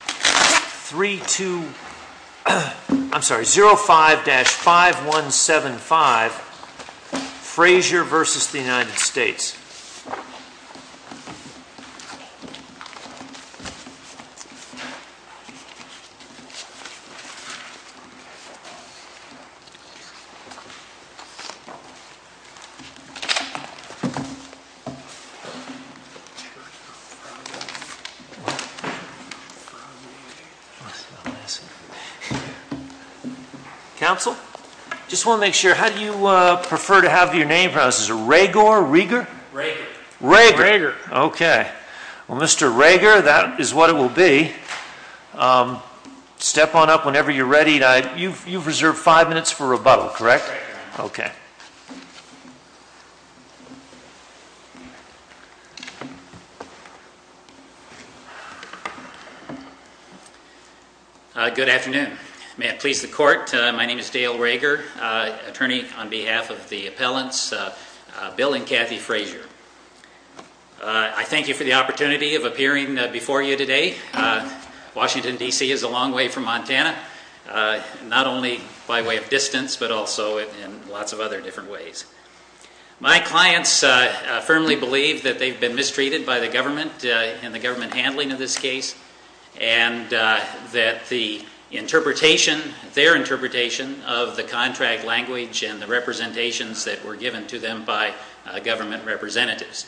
I'm sorry, 05-5175, Frazier versus the United States. Counsel, I just want to make sure, how do you prefer to have your name pronounced? Is it Raegor? Raegor. Raegor, okay. Well, Mr. Raegor, that is what it will be. Step on up whenever you're ready. You've reserved five minutes for rebuttal, correct? Yes, Mr. Raegor. Good afternoon. May it please the court, my name is Dale Raegor, attorney on behalf of the appellants Bill and Kathy Frazier. I thank you for the opportunity of appearing before you today. Washington, D.C. is a long way from Montana, not only by way of distance but also in lots of other different ways. My clients firmly believe that they've been mistreated by the government and the government handling of this case and that the interpretation, their interpretation of the contract language and the representations that were given to them by government representatives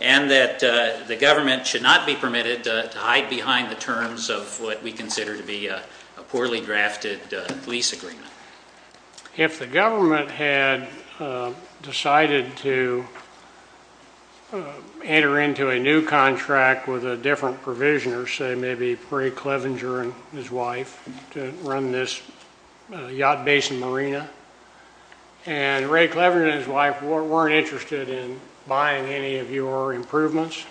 and that the government should not be permitted to hide behind the terms of what we consider to be a poorly drafted lease agreement. If the government had decided to enter into a new contract with a different provisioner, say maybe Ray Clevenger and his wife, to run this yacht basin marina, and Ray Clevenger and his wife weren't interested in buying any of your improvements,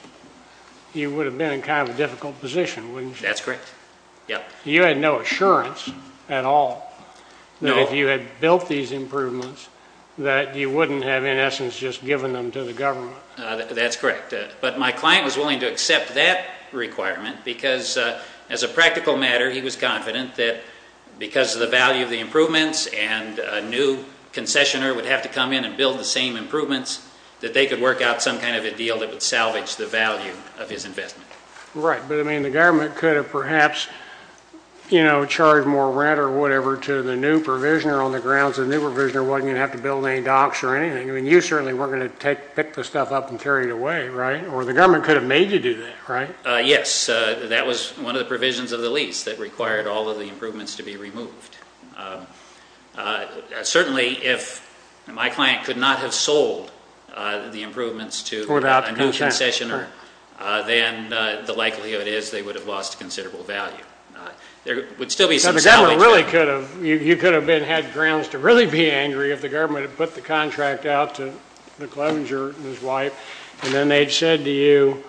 you would have been in kind of a difficult position, wouldn't you? That's correct. You had no assurance at all that if you had built these improvements that you wouldn't have in essence just given them to the government. That's correct. But my client was willing to accept that requirement because as a practical matter, he was confident that because of the value of the improvements and a new concessioner would have to come in and build the same improvements, that they could work out some kind of a deal that would salvage the value of his investment. Right. But I mean the government could have perhaps, you know, charged more rent or whatever to the new provisioner on the grounds the new provisioner wasn't going to have to build any docks or anything. I mean you certainly weren't going to pick the stuff up and carry it away, right? Or the government could have made you do that, right? Yes. That was one of the provisions of the lease that required all of the improvements to be removed. Certainly if my client could not have sold the improvements to a new concessioner, then the likelihood is they would have lost considerable value. There would still be some salvage. You could have had grounds to really be angry if the government had put the contract out to McLevenger and his wife and then they had said to you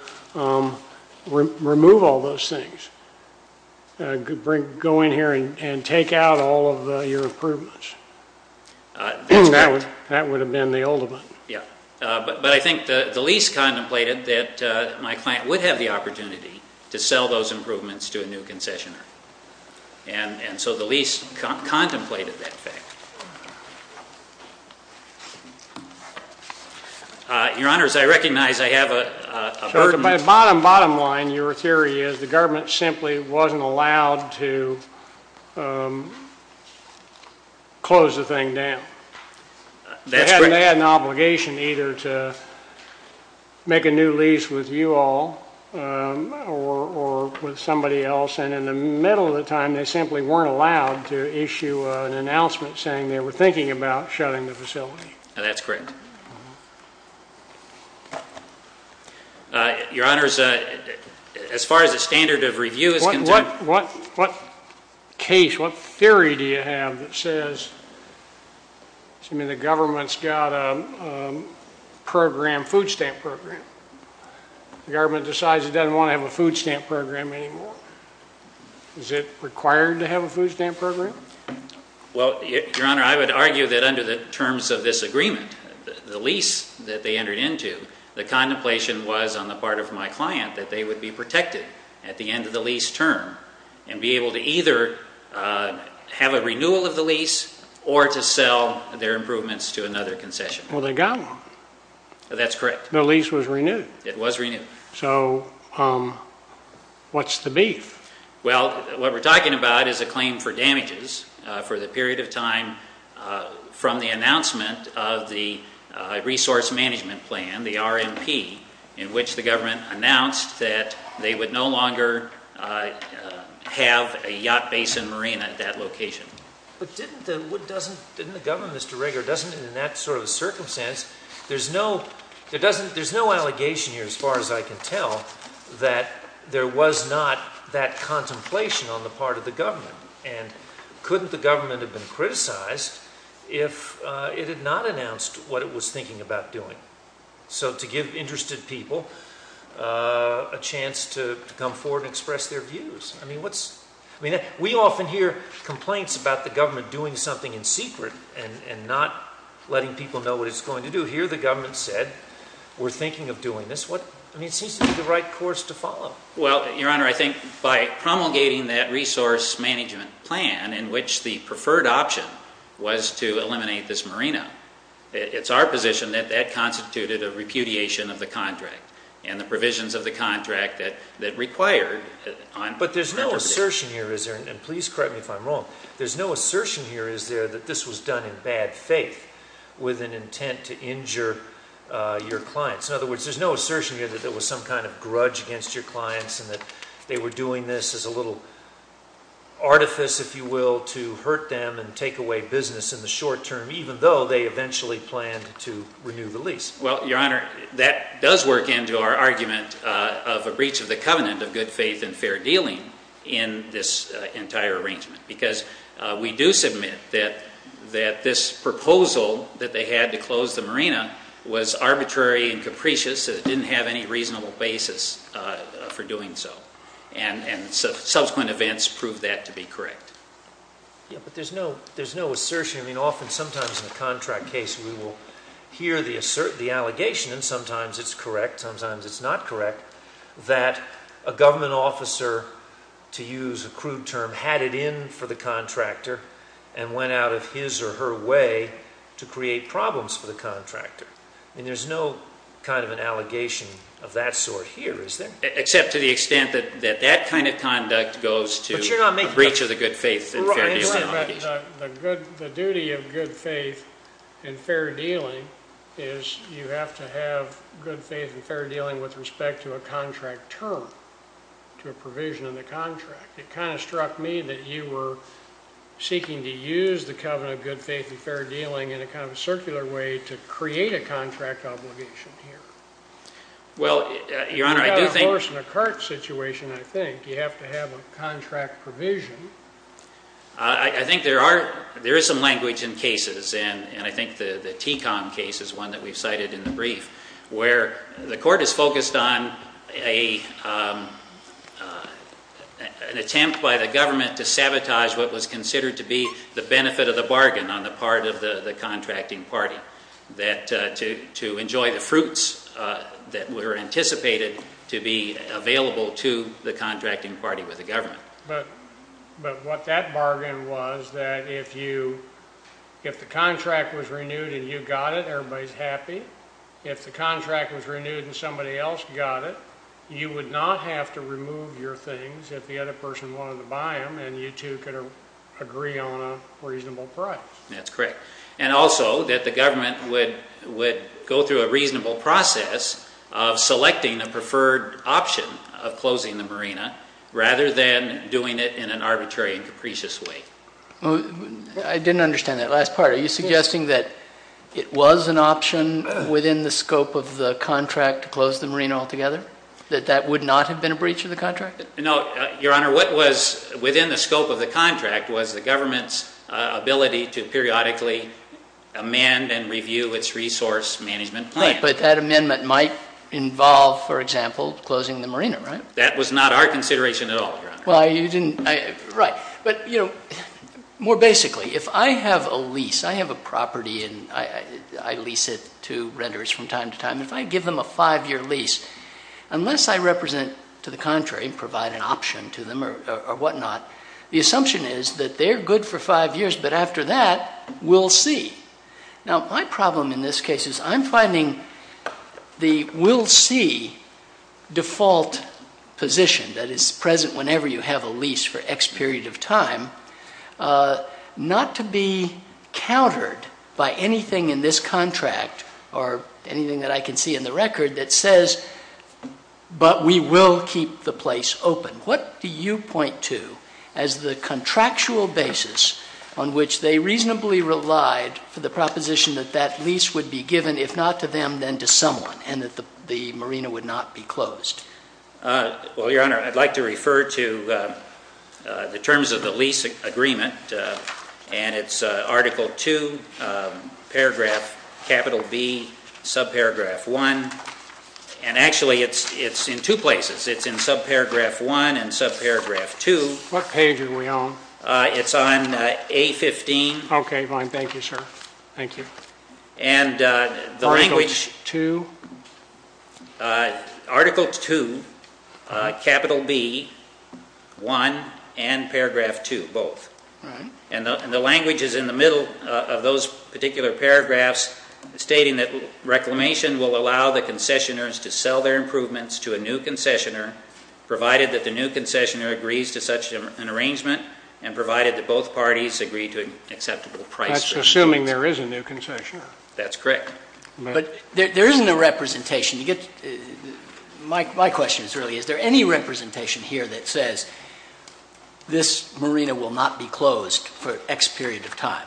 remove all those things, go in here and take out all of your improvements. That would have been the ultimate. Yes. But I think the lease contemplated that my client would have the opportunity to sell those improvements to a new concessioner. And so the lease contemplated that fact. Your Honors, I recognize I have a burden. Bottom line, your theory is the government simply wasn't allowed to close the thing down. That's correct. They had an obligation either to make a new lease with you all or with somebody else, and in the middle of the time they simply weren't allowed to issue an announcement saying they were thinking about shutting the facility. That's correct. Your Honors, as far as the standard of review is concerned. What case, what theory do you have that says the government's got a food stamp program? The government decides it doesn't want to have a food stamp program anymore. Is it required to have a food stamp program? Well, your Honor, I would argue that under the terms of this agreement, the lease that they entered into, the contemplation was on the part of my client that they would be protected at the end of the lease term and be able to either have a renewal of the lease or to sell their improvements to another concessioner. Well, they got one. That's correct. The lease was renewed. It was renewed. So what's the beef? Well, what we're talking about is a claim for damages for the period of time from the announcement of the resource management plan, the RMP, in which the government announced that they would no longer have a yacht basin marina at that location. But didn't the, what doesn't, didn't the government, Mr. Ringer, doesn't in that sort of circumstance, there's no, there doesn't, there's no allegation here as far as I can tell that there was not that contemplation on the part of the government. And couldn't the government have been criticized if it had not announced what it was thinking about doing? So to give interested people a chance to come forward and express their views. I mean, what's, I mean, we often hear complaints about the government doing something in secret and not letting people know what it's going to do. Here the government said we're thinking of doing this. What, I mean, it seems to be the right course to follow. Well, Your Honor, I think by promulgating that resource management plan in which the preferred option was to eliminate this marina, it's our position that that constituted a repudiation of the contract and the provisions of the contract that required. But there's no assertion here, is there, and please correct me if I'm wrong, there's no assertion here, is there, that this was done in bad faith with an intent to injure your clients. In other words, there's no assertion here that there was some kind of grudge against your clients and that they were doing this as a little artifice, if you will, to hurt them and take away business in the short term, even though they eventually planned to renew the lease. Well, Your Honor, that does work into our argument of a breach of the covenant of good faith and fair dealing in this entire arrangement because we do submit that this proposal that they had to close the marina was arbitrary and capricious and it didn't have any reasonable basis for doing so. And subsequent events prove that to be correct. Yeah, but there's no assertion. I mean, often sometimes in a contract case we will hear the assertion, the allegation, and sometimes it's correct, sometimes it's not correct, that a government officer, to use a crude term, had it in for the contractor and went out of his or her way to create problems for the contractor. I mean, there's no kind of an allegation of that sort here, is there? Except to the extent that that kind of conduct goes to a breach of the good faith and fair dealing. The duty of good faith and fair dealing is you have to have good faith and fair dealing with respect to a contract term, to a provision in the contract. It kind of struck me that you were seeking to use the covenant of good faith and fair dealing in a kind of circular way to create a contract obligation here. Well, Your Honor, I do think... Of course, in a cart situation, I think, you have to have a contract provision. I think there is some language in cases, and I think the TECOM case is one that we've cited in the brief, where the court is focused on an attempt by the government to sabotage what was considered to be the benefit of the bargain on the part of the contracting party, to enjoy the fruits that were anticipated to be available to the contracting party with the government. But what that bargain was that if the contract was renewed and you got it, everybody's happy. If the contract was renewed and somebody else got it, you would not have to remove your things if the other person wanted to buy them, and you two could agree on a reasonable price. That's correct. And also that the government would go through a reasonable process of selecting a preferred option of closing the marina rather than doing it in an arbitrary and capricious way. I didn't understand that last part. Are you suggesting that it was an option within the scope of the contract to close the marina altogether, that that would not have been a breach of the contract? No, Your Honor. What was within the scope of the contract was the government's ability to periodically amend and review its resource management plans. But that amendment might involve, for example, closing the marina, right? That was not our consideration at all, Your Honor. Well, you didn't, right. But, you know, more basically, if I have a lease, I have a property and I lease it to renters from time to time. If I give them a five-year lease, unless I represent to the contrary and provide an option to them or whatnot, the assumption is that they're good for five years, but after that, we'll see. Now, my problem in this case is I'm finding the we'll see default position that is present whenever you have a lease for X period of time not to be countered by anything in this contract or anything that I can see in the record that says, but we will keep the place open. What do you point to as the contractual basis on which they reasonably relied for the proposition that that lease would be given, if not to them, then to someone, and that the marina would not be closed? Well, Your Honor, I'd like to refer to the terms of the lease agreement, and it's Article 2, paragraph capital B, subparagraph 1. And actually, it's in two places. It's in subparagraph 1 and subparagraph 2. What page are we on? It's on A15. Okay, fine. Thank you, sir. Thank you. Article 2? Article 2, capital B, 1, and paragraph 2, both. And the language is in the middle of those particular paragraphs, stating that reclamation will allow the concessioners to sell their improvements to a new concessioner, provided that the new concessioner agrees to such an arrangement and provided that both parties agree to an acceptable price. That's assuming there is a new concessioner. That's correct. But there isn't a representation. My question is really, is there any representation here that says this marina will not be closed for X period of time?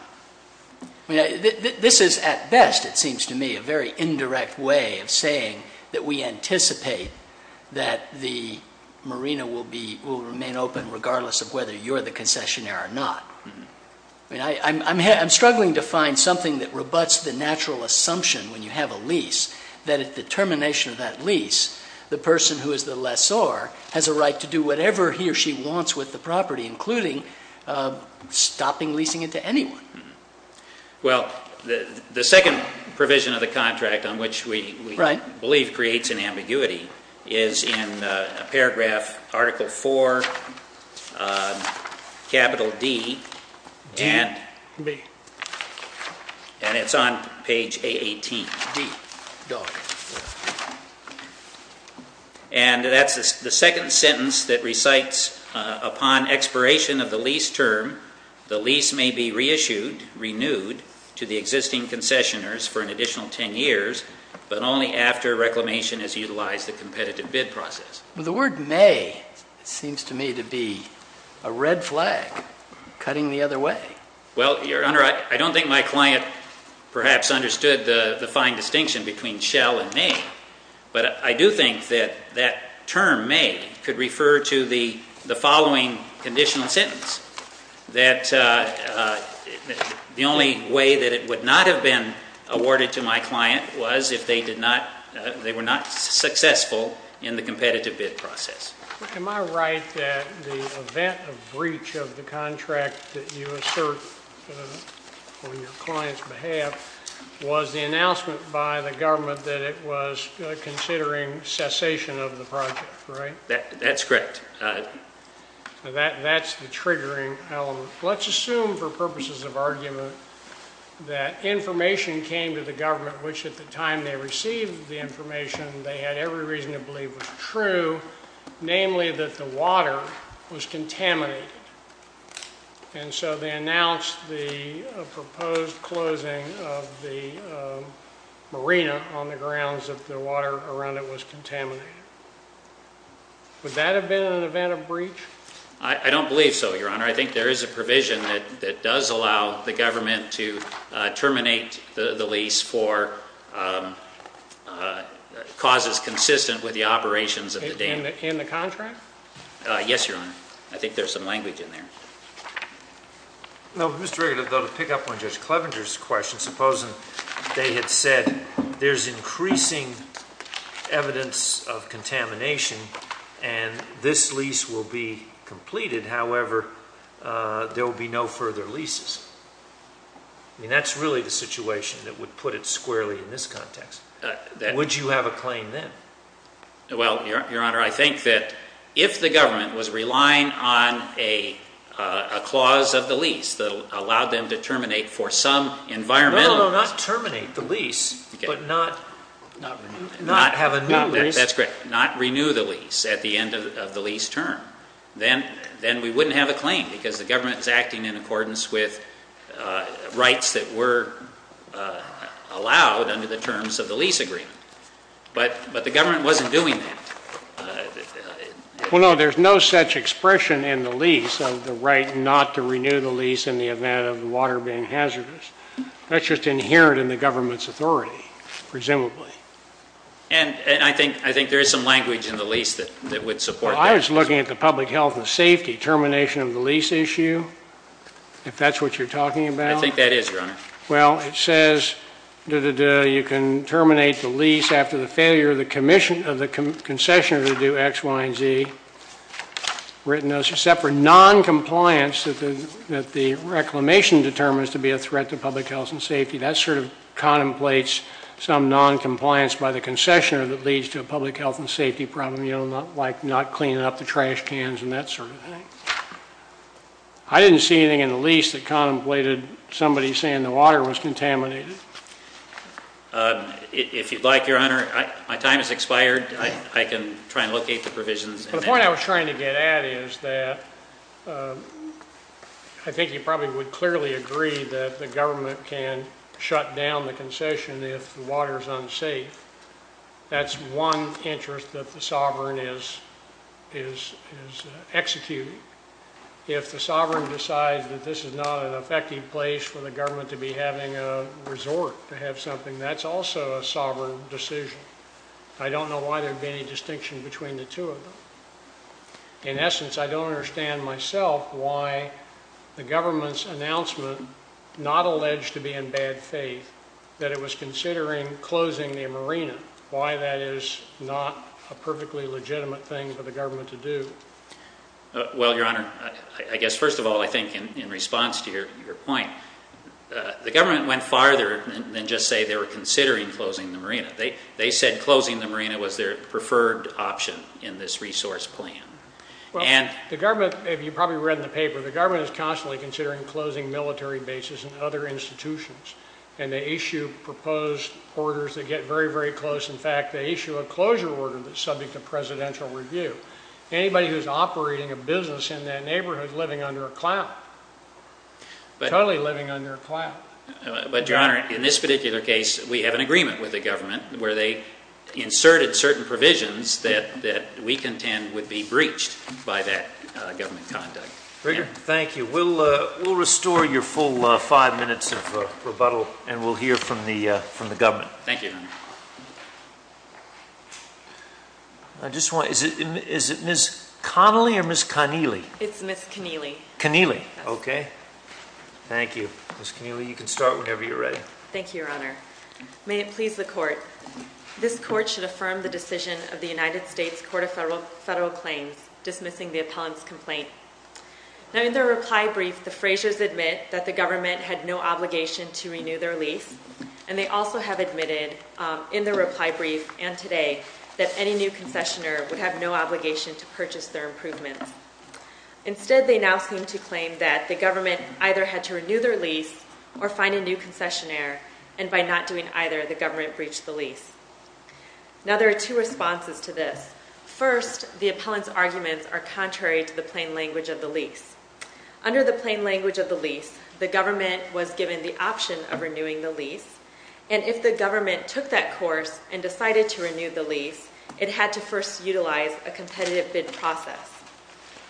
This is, at best, it seems to me, a very indirect way of saying that we anticipate that the marina will remain open, regardless of whether you're the concessioner or not. I'm struggling to find something that rebutts the natural assumption when you have a lease that at the termination of that lease, the person who is the lessor has a right to do whatever he or she wants with the property, including stopping leasing it to anyone. Well, the second provision of the contract on which we believe creates an ambiguity is in paragraph Article 4, capital D, and it's on page A18. And that's the second sentence that recites upon expiration of the lease term, the lease may be reissued, renewed, to the existing concessioners for an additional 10 years, but only after reclamation has utilized the competitive bid process. The word may seems to me to be a red flag cutting the other way. Well, Your Honor, I don't think my client perhaps understood the fine distinction between shell and may. But I do think that that term may could refer to the following conditional sentence, that the only way that it would not have been awarded to my client was if they were not successful in the competitive bid process. Am I right that the event of breach of the contract that you assert on your client's behalf was the announcement by the government that it was considering cessation of the project, right? That's correct. That's the triggering element. Let's assume for purposes of argument that information came to the government, which at the time they received the information, they had every reason to believe was true, namely that the water was contaminated. And so they announced the proposed closing of the marina on the grounds that the water around it was contaminated. Would that have been an event of breach? I don't believe so, Your Honor. I think there is a provision that does allow the government to terminate the lease for causes consistent with the operations of the dam. In the contract? Yes, Your Honor. I think there's some language in there. Mr. Regative, though, to pick up on Judge Clevenger's question, supposing they had said there's increasing evidence of contamination and this lease will be completed, however, there will be no further leases. I mean, that's really the situation that would put it squarely in this context. Would you have a claim then? Well, Your Honor, I think that if the government was relying on a clause of the lease that allowed them to terminate for some environmental reasons. No, no, no, not terminate the lease, but not have a new lease. That's correct. Not renew the lease at the end of the lease term. Then we wouldn't have a claim because the government is acting in accordance with rights that were allowed under the terms of the lease agreement. But the government wasn't doing that. Well, no, there's no such expression in the lease of the right not to renew the lease in the event of the water being hazardous. That's just inherent in the government's authority, presumably. And I think there is some language in the lease that would support that. I was looking at the public health and safety termination of the lease issue, if that's what you're talking about. I think that is, Your Honor. Well, it says you can terminate the lease after the failure of the concessioner to do X, Y, and Z. Except for noncompliance that the reclamation determines to be a threat to public health and safety. That sort of contemplates some noncompliance by the concessioner that leads to a public health and safety problem. You know, like not cleaning up the trash cans and that sort of thing. I didn't see anything in the lease that contemplated somebody saying the water was contaminated. If you'd like, Your Honor, my time has expired. I can try and locate the provisions. The point I was trying to get at is that I think you probably would clearly agree that the government can shut down the concession if the water is unsafe. That's one interest that the sovereign is executing. If the sovereign decides that this is not an effective place for the government to be having a resort to have something, that's also a sovereign decision. I don't know why there would be any distinction between the two of them. In essence, I don't understand myself why the government's announcement, not alleged to be in bad faith, that it was considering closing the marina, why that is not a perfectly legitimate thing for the government to do. Well, Your Honor, I guess first of all, I think in response to your point, the government went farther than just say they were considering closing the marina. They said closing the marina was their preferred option in this resource plan. Well, the government, as you probably read in the paper, the government is constantly considering closing military bases and other institutions, and they issue proposed orders that get very, very close. In fact, they issue a closure order that's subject to presidential review. Anybody who's operating a business in that neighborhood living under a cloud, totally living under a cloud. But, Your Honor, in this particular case, we have an agreement with the government where they inserted certain provisions that we contend would be breached by that government conduct. Thank you. We'll restore your full five minutes of rebuttal, and we'll hear from the government. Thank you, Your Honor. Is it Ms. Connolly or Ms. Connealy? It's Ms. Connealy. Connealy, okay. Thank you. Ms. Connealy, you can start whenever you're ready. Thank you, Your Honor. May it please the court. This court should affirm the decision of the United States Court of Federal Claims dismissing the appellant's complaint. Now, in their reply brief, the Fraziers admit that the government had no obligation to renew their lease, and they also have admitted in their reply brief and today that any new concessioner would have no obligation to purchase their improvement. Instead, they now seem to claim that the government either had to renew their lease or find a new concessioner, and by not doing either, the government breached the lease. Now, there are two responses to this. First, the appellant's arguments are contrary to the plain language of the lease. Under the plain language of the lease, the government was given the option of renewing the lease, and if the government took that course and decided to renew the lease, it had to first utilize a competitive bid process.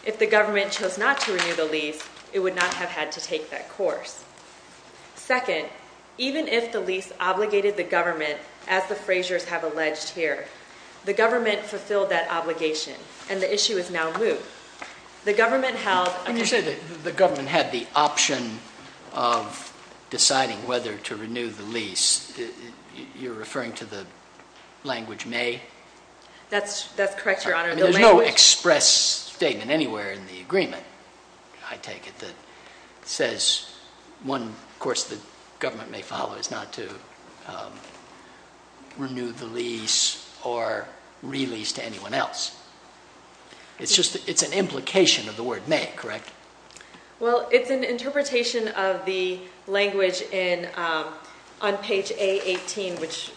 If the government chose not to renew the lease, it would not have had to take that course. Second, even if the lease obligated the government, as the Fraziers have alleged here, the government fulfilled that obligation, and the issue is now moved. When you say that the government had the option of deciding whether to renew the lease, you're referring to the language may? That's correct, Your Honor. I mean, there's no express statement anywhere in the agreement, I take it, that says one course the government may follow is not to renew the lease or release to anyone else. It's an implication of the word may, correct? Well, it's an interpretation of the language on page A18, which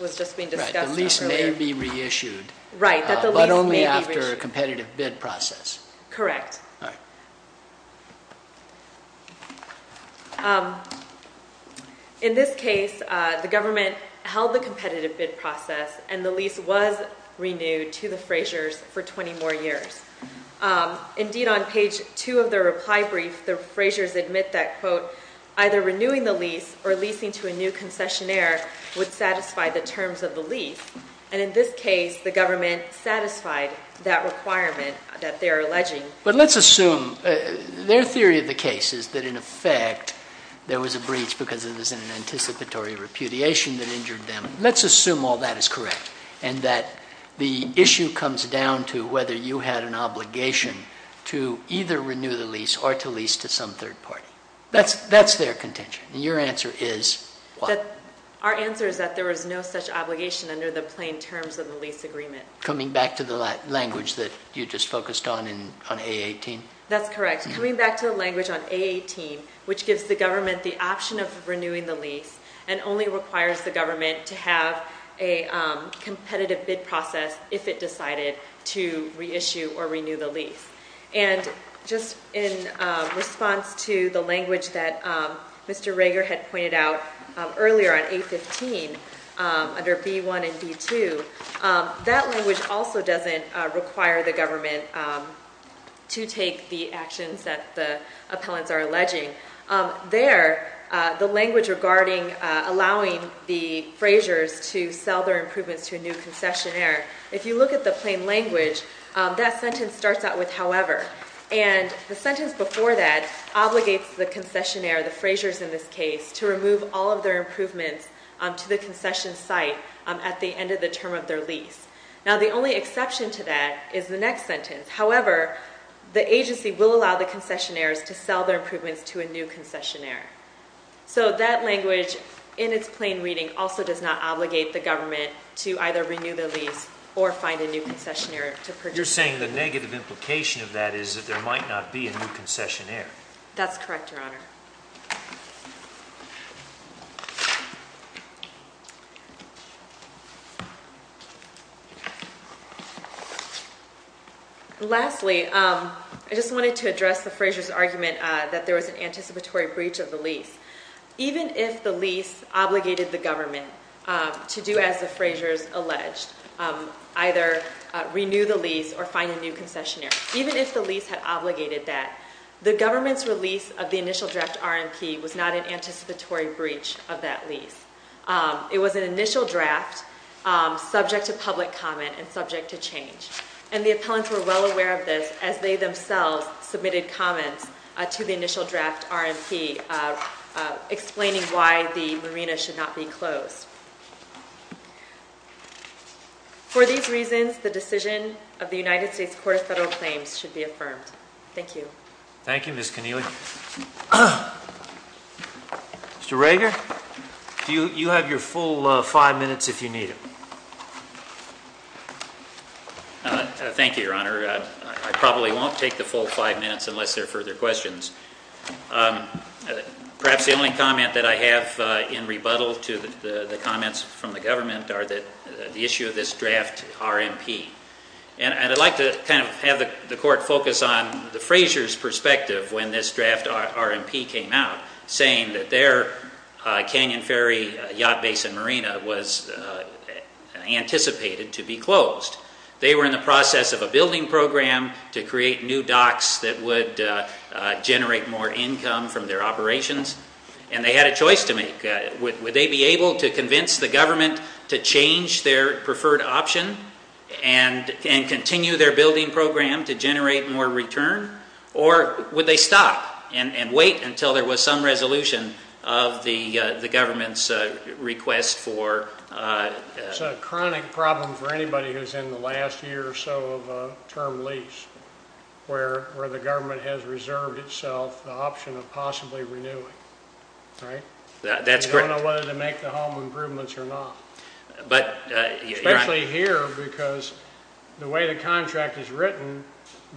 was just being discussed earlier. Right, the lease may be reissued, but only after a competitive bid process. Correct. All right. In this case, the government held the competitive bid process, and the lease was renewed to the Fraziers for 20 more years. Indeed, on page 2 of their reply brief, the Fraziers admit that, quote, either renewing the lease or leasing to a new concessionaire would satisfy the terms of the lease, and in this case, the government satisfied that requirement that they are alleging. But let's assume their theory of the case is that, in effect, there was a breach because it was an anticipatory repudiation that injured them. Let's assume all that is correct and that the issue comes down to whether you had an obligation to either renew the lease or to lease to some third party. That's their contention, and your answer is what? Our answer is that there was no such obligation under the plain terms of the lease agreement. Coming back to the language that you just focused on on A18? That's correct. Coming back to the language on A18, which gives the government the option of renewing the lease and only requires the government to have a competitive bid process if it decided to reissue or renew the lease. And just in response to the language that Mr. Rager had pointed out earlier on A15 under B1 and B2, that language also doesn't require the government to take the actions that the appellants are alleging. There, the language regarding allowing the Fraziers to sell their improvements to a new concessionaire, if you look at the plain language, that sentence starts out with however, and the sentence before that obligates the concessionaire, the Fraziers in this case, to remove all of their improvements to the concession site at the end of the term of their lease. Now, the only exception to that is the next sentence. However, the agency will allow the concessionaires to sell their improvements to a new concessionaire. So that language in its plain reading also does not obligate the government to either renew the lease or find a new concessionaire to purchase. You're saying the negative implication of that is that there might not be a new concessionaire. That's correct, Your Honor. Lastly, I just wanted to address the Fraziers' argument that there was an anticipatory breach of the lease. Even if the lease obligated the government to do as the Fraziers alleged, either renew the lease or find a new concessionaire, even if the lease had obligated that, the government's release of the initial draft of the concessionaire, was not an anticipatory breach of that lease. It was an initial draft subject to public comment and subject to change. And the appellants were well aware of this as they themselves submitted comments to the initial draft RMP explaining why the marina should not be closed. For these reasons, the decision of the United States Court of Federal Claims should be affirmed. Thank you. Thank you, Ms. Connealy. Mr. Rager, you have your full five minutes if you need it. Thank you, Your Honor. I probably won't take the full five minutes unless there are further questions. Perhaps the only comment that I have in rebuttal to the comments from the government are the issue of this draft RMP. And I'd like to kind of have the Court focus on the Fraziers' perspective when this draft RMP came out, saying that their Canyon Ferry Yacht Basin Marina was anticipated to be closed. They were in the process of a building program to create new docks that would generate more income from their operations. Would they be able to convince the government to change their preferred option and continue their building program to generate more return? Or would they stop and wait until there was some resolution of the government's request for? It's a chronic problem for anybody who's in the last year or so of term lease, where the government has reserved itself the option of possibly renewing, right? You don't know whether to make the home improvements or not. Especially here because the way the contract is written,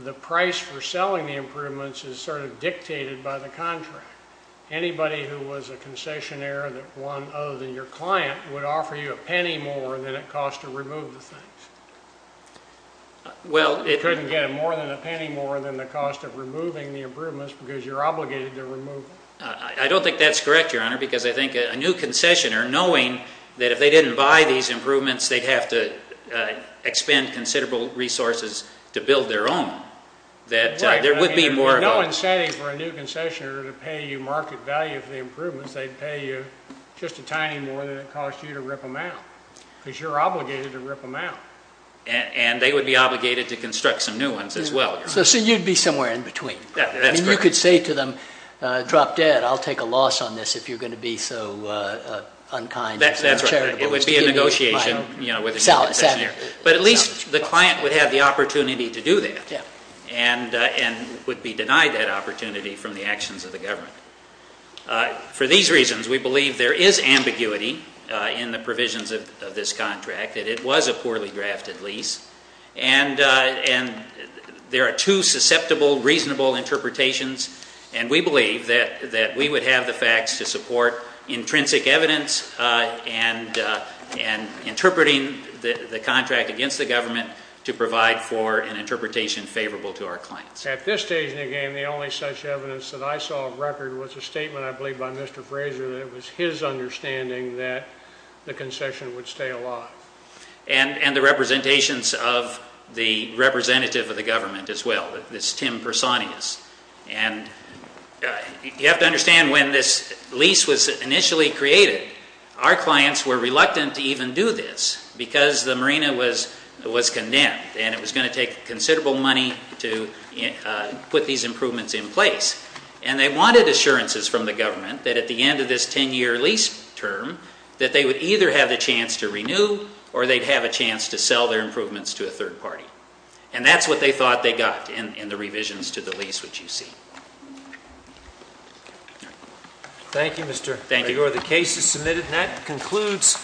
the price for selling the improvements is sort of dictated by the contract. Anybody who was a concessionaire that won other than your client would offer you a penny more than it costs to remove the things. You couldn't get more than a penny more than the cost of removing the improvements because you're obligated to remove them. I don't think that's correct, Your Honor, because I think a new concessionaire, knowing that if they didn't buy these improvements, they'd have to expend considerable resources to build their own, that there would be more of a... There's no incentive for a new concessionaire to pay you market value for the improvements. They'd pay you just a tiny more than it costs you to rip them out because you're obligated to rip them out. And they would be obligated to construct some new ones as well. So you'd be somewhere in between. Yeah, that's correct. You could say to them, drop dead, I'll take a loss on this if you're going to be so unkind. That's right. It would be a negotiation with a new concessionaire. But at least the client would have the opportunity to do that and would be denied that opportunity from the actions of the government. For these reasons, we believe there is ambiguity in the provisions of this contract, that it was a poorly drafted lease, and there are two susceptible, reasonable interpretations, and we believe that we would have the facts to support intrinsic evidence and interpreting the contract against the government to provide for an interpretation favorable to our clients. At this stage in the game, the only such evidence that I saw of record was a statement, I believe, by Mr. Fraser that it was his understanding that the concession would stay alive. And the representations of the representative of the government as well, this Tim Personius. And you have to understand when this lease was initially created, our clients were reluctant to even do this because the marina was condemned and it was going to take considerable money to put these improvements in place. And they wanted assurances from the government that at the end of this 10-year lease term that they would either have the chance to renew or they'd have a chance to sell their improvements to a third party. And that's what they thought they got in the revisions to the lease, which you see. Thank you, Mr. Gregor. Thank you. The case is submitted, and that concludes.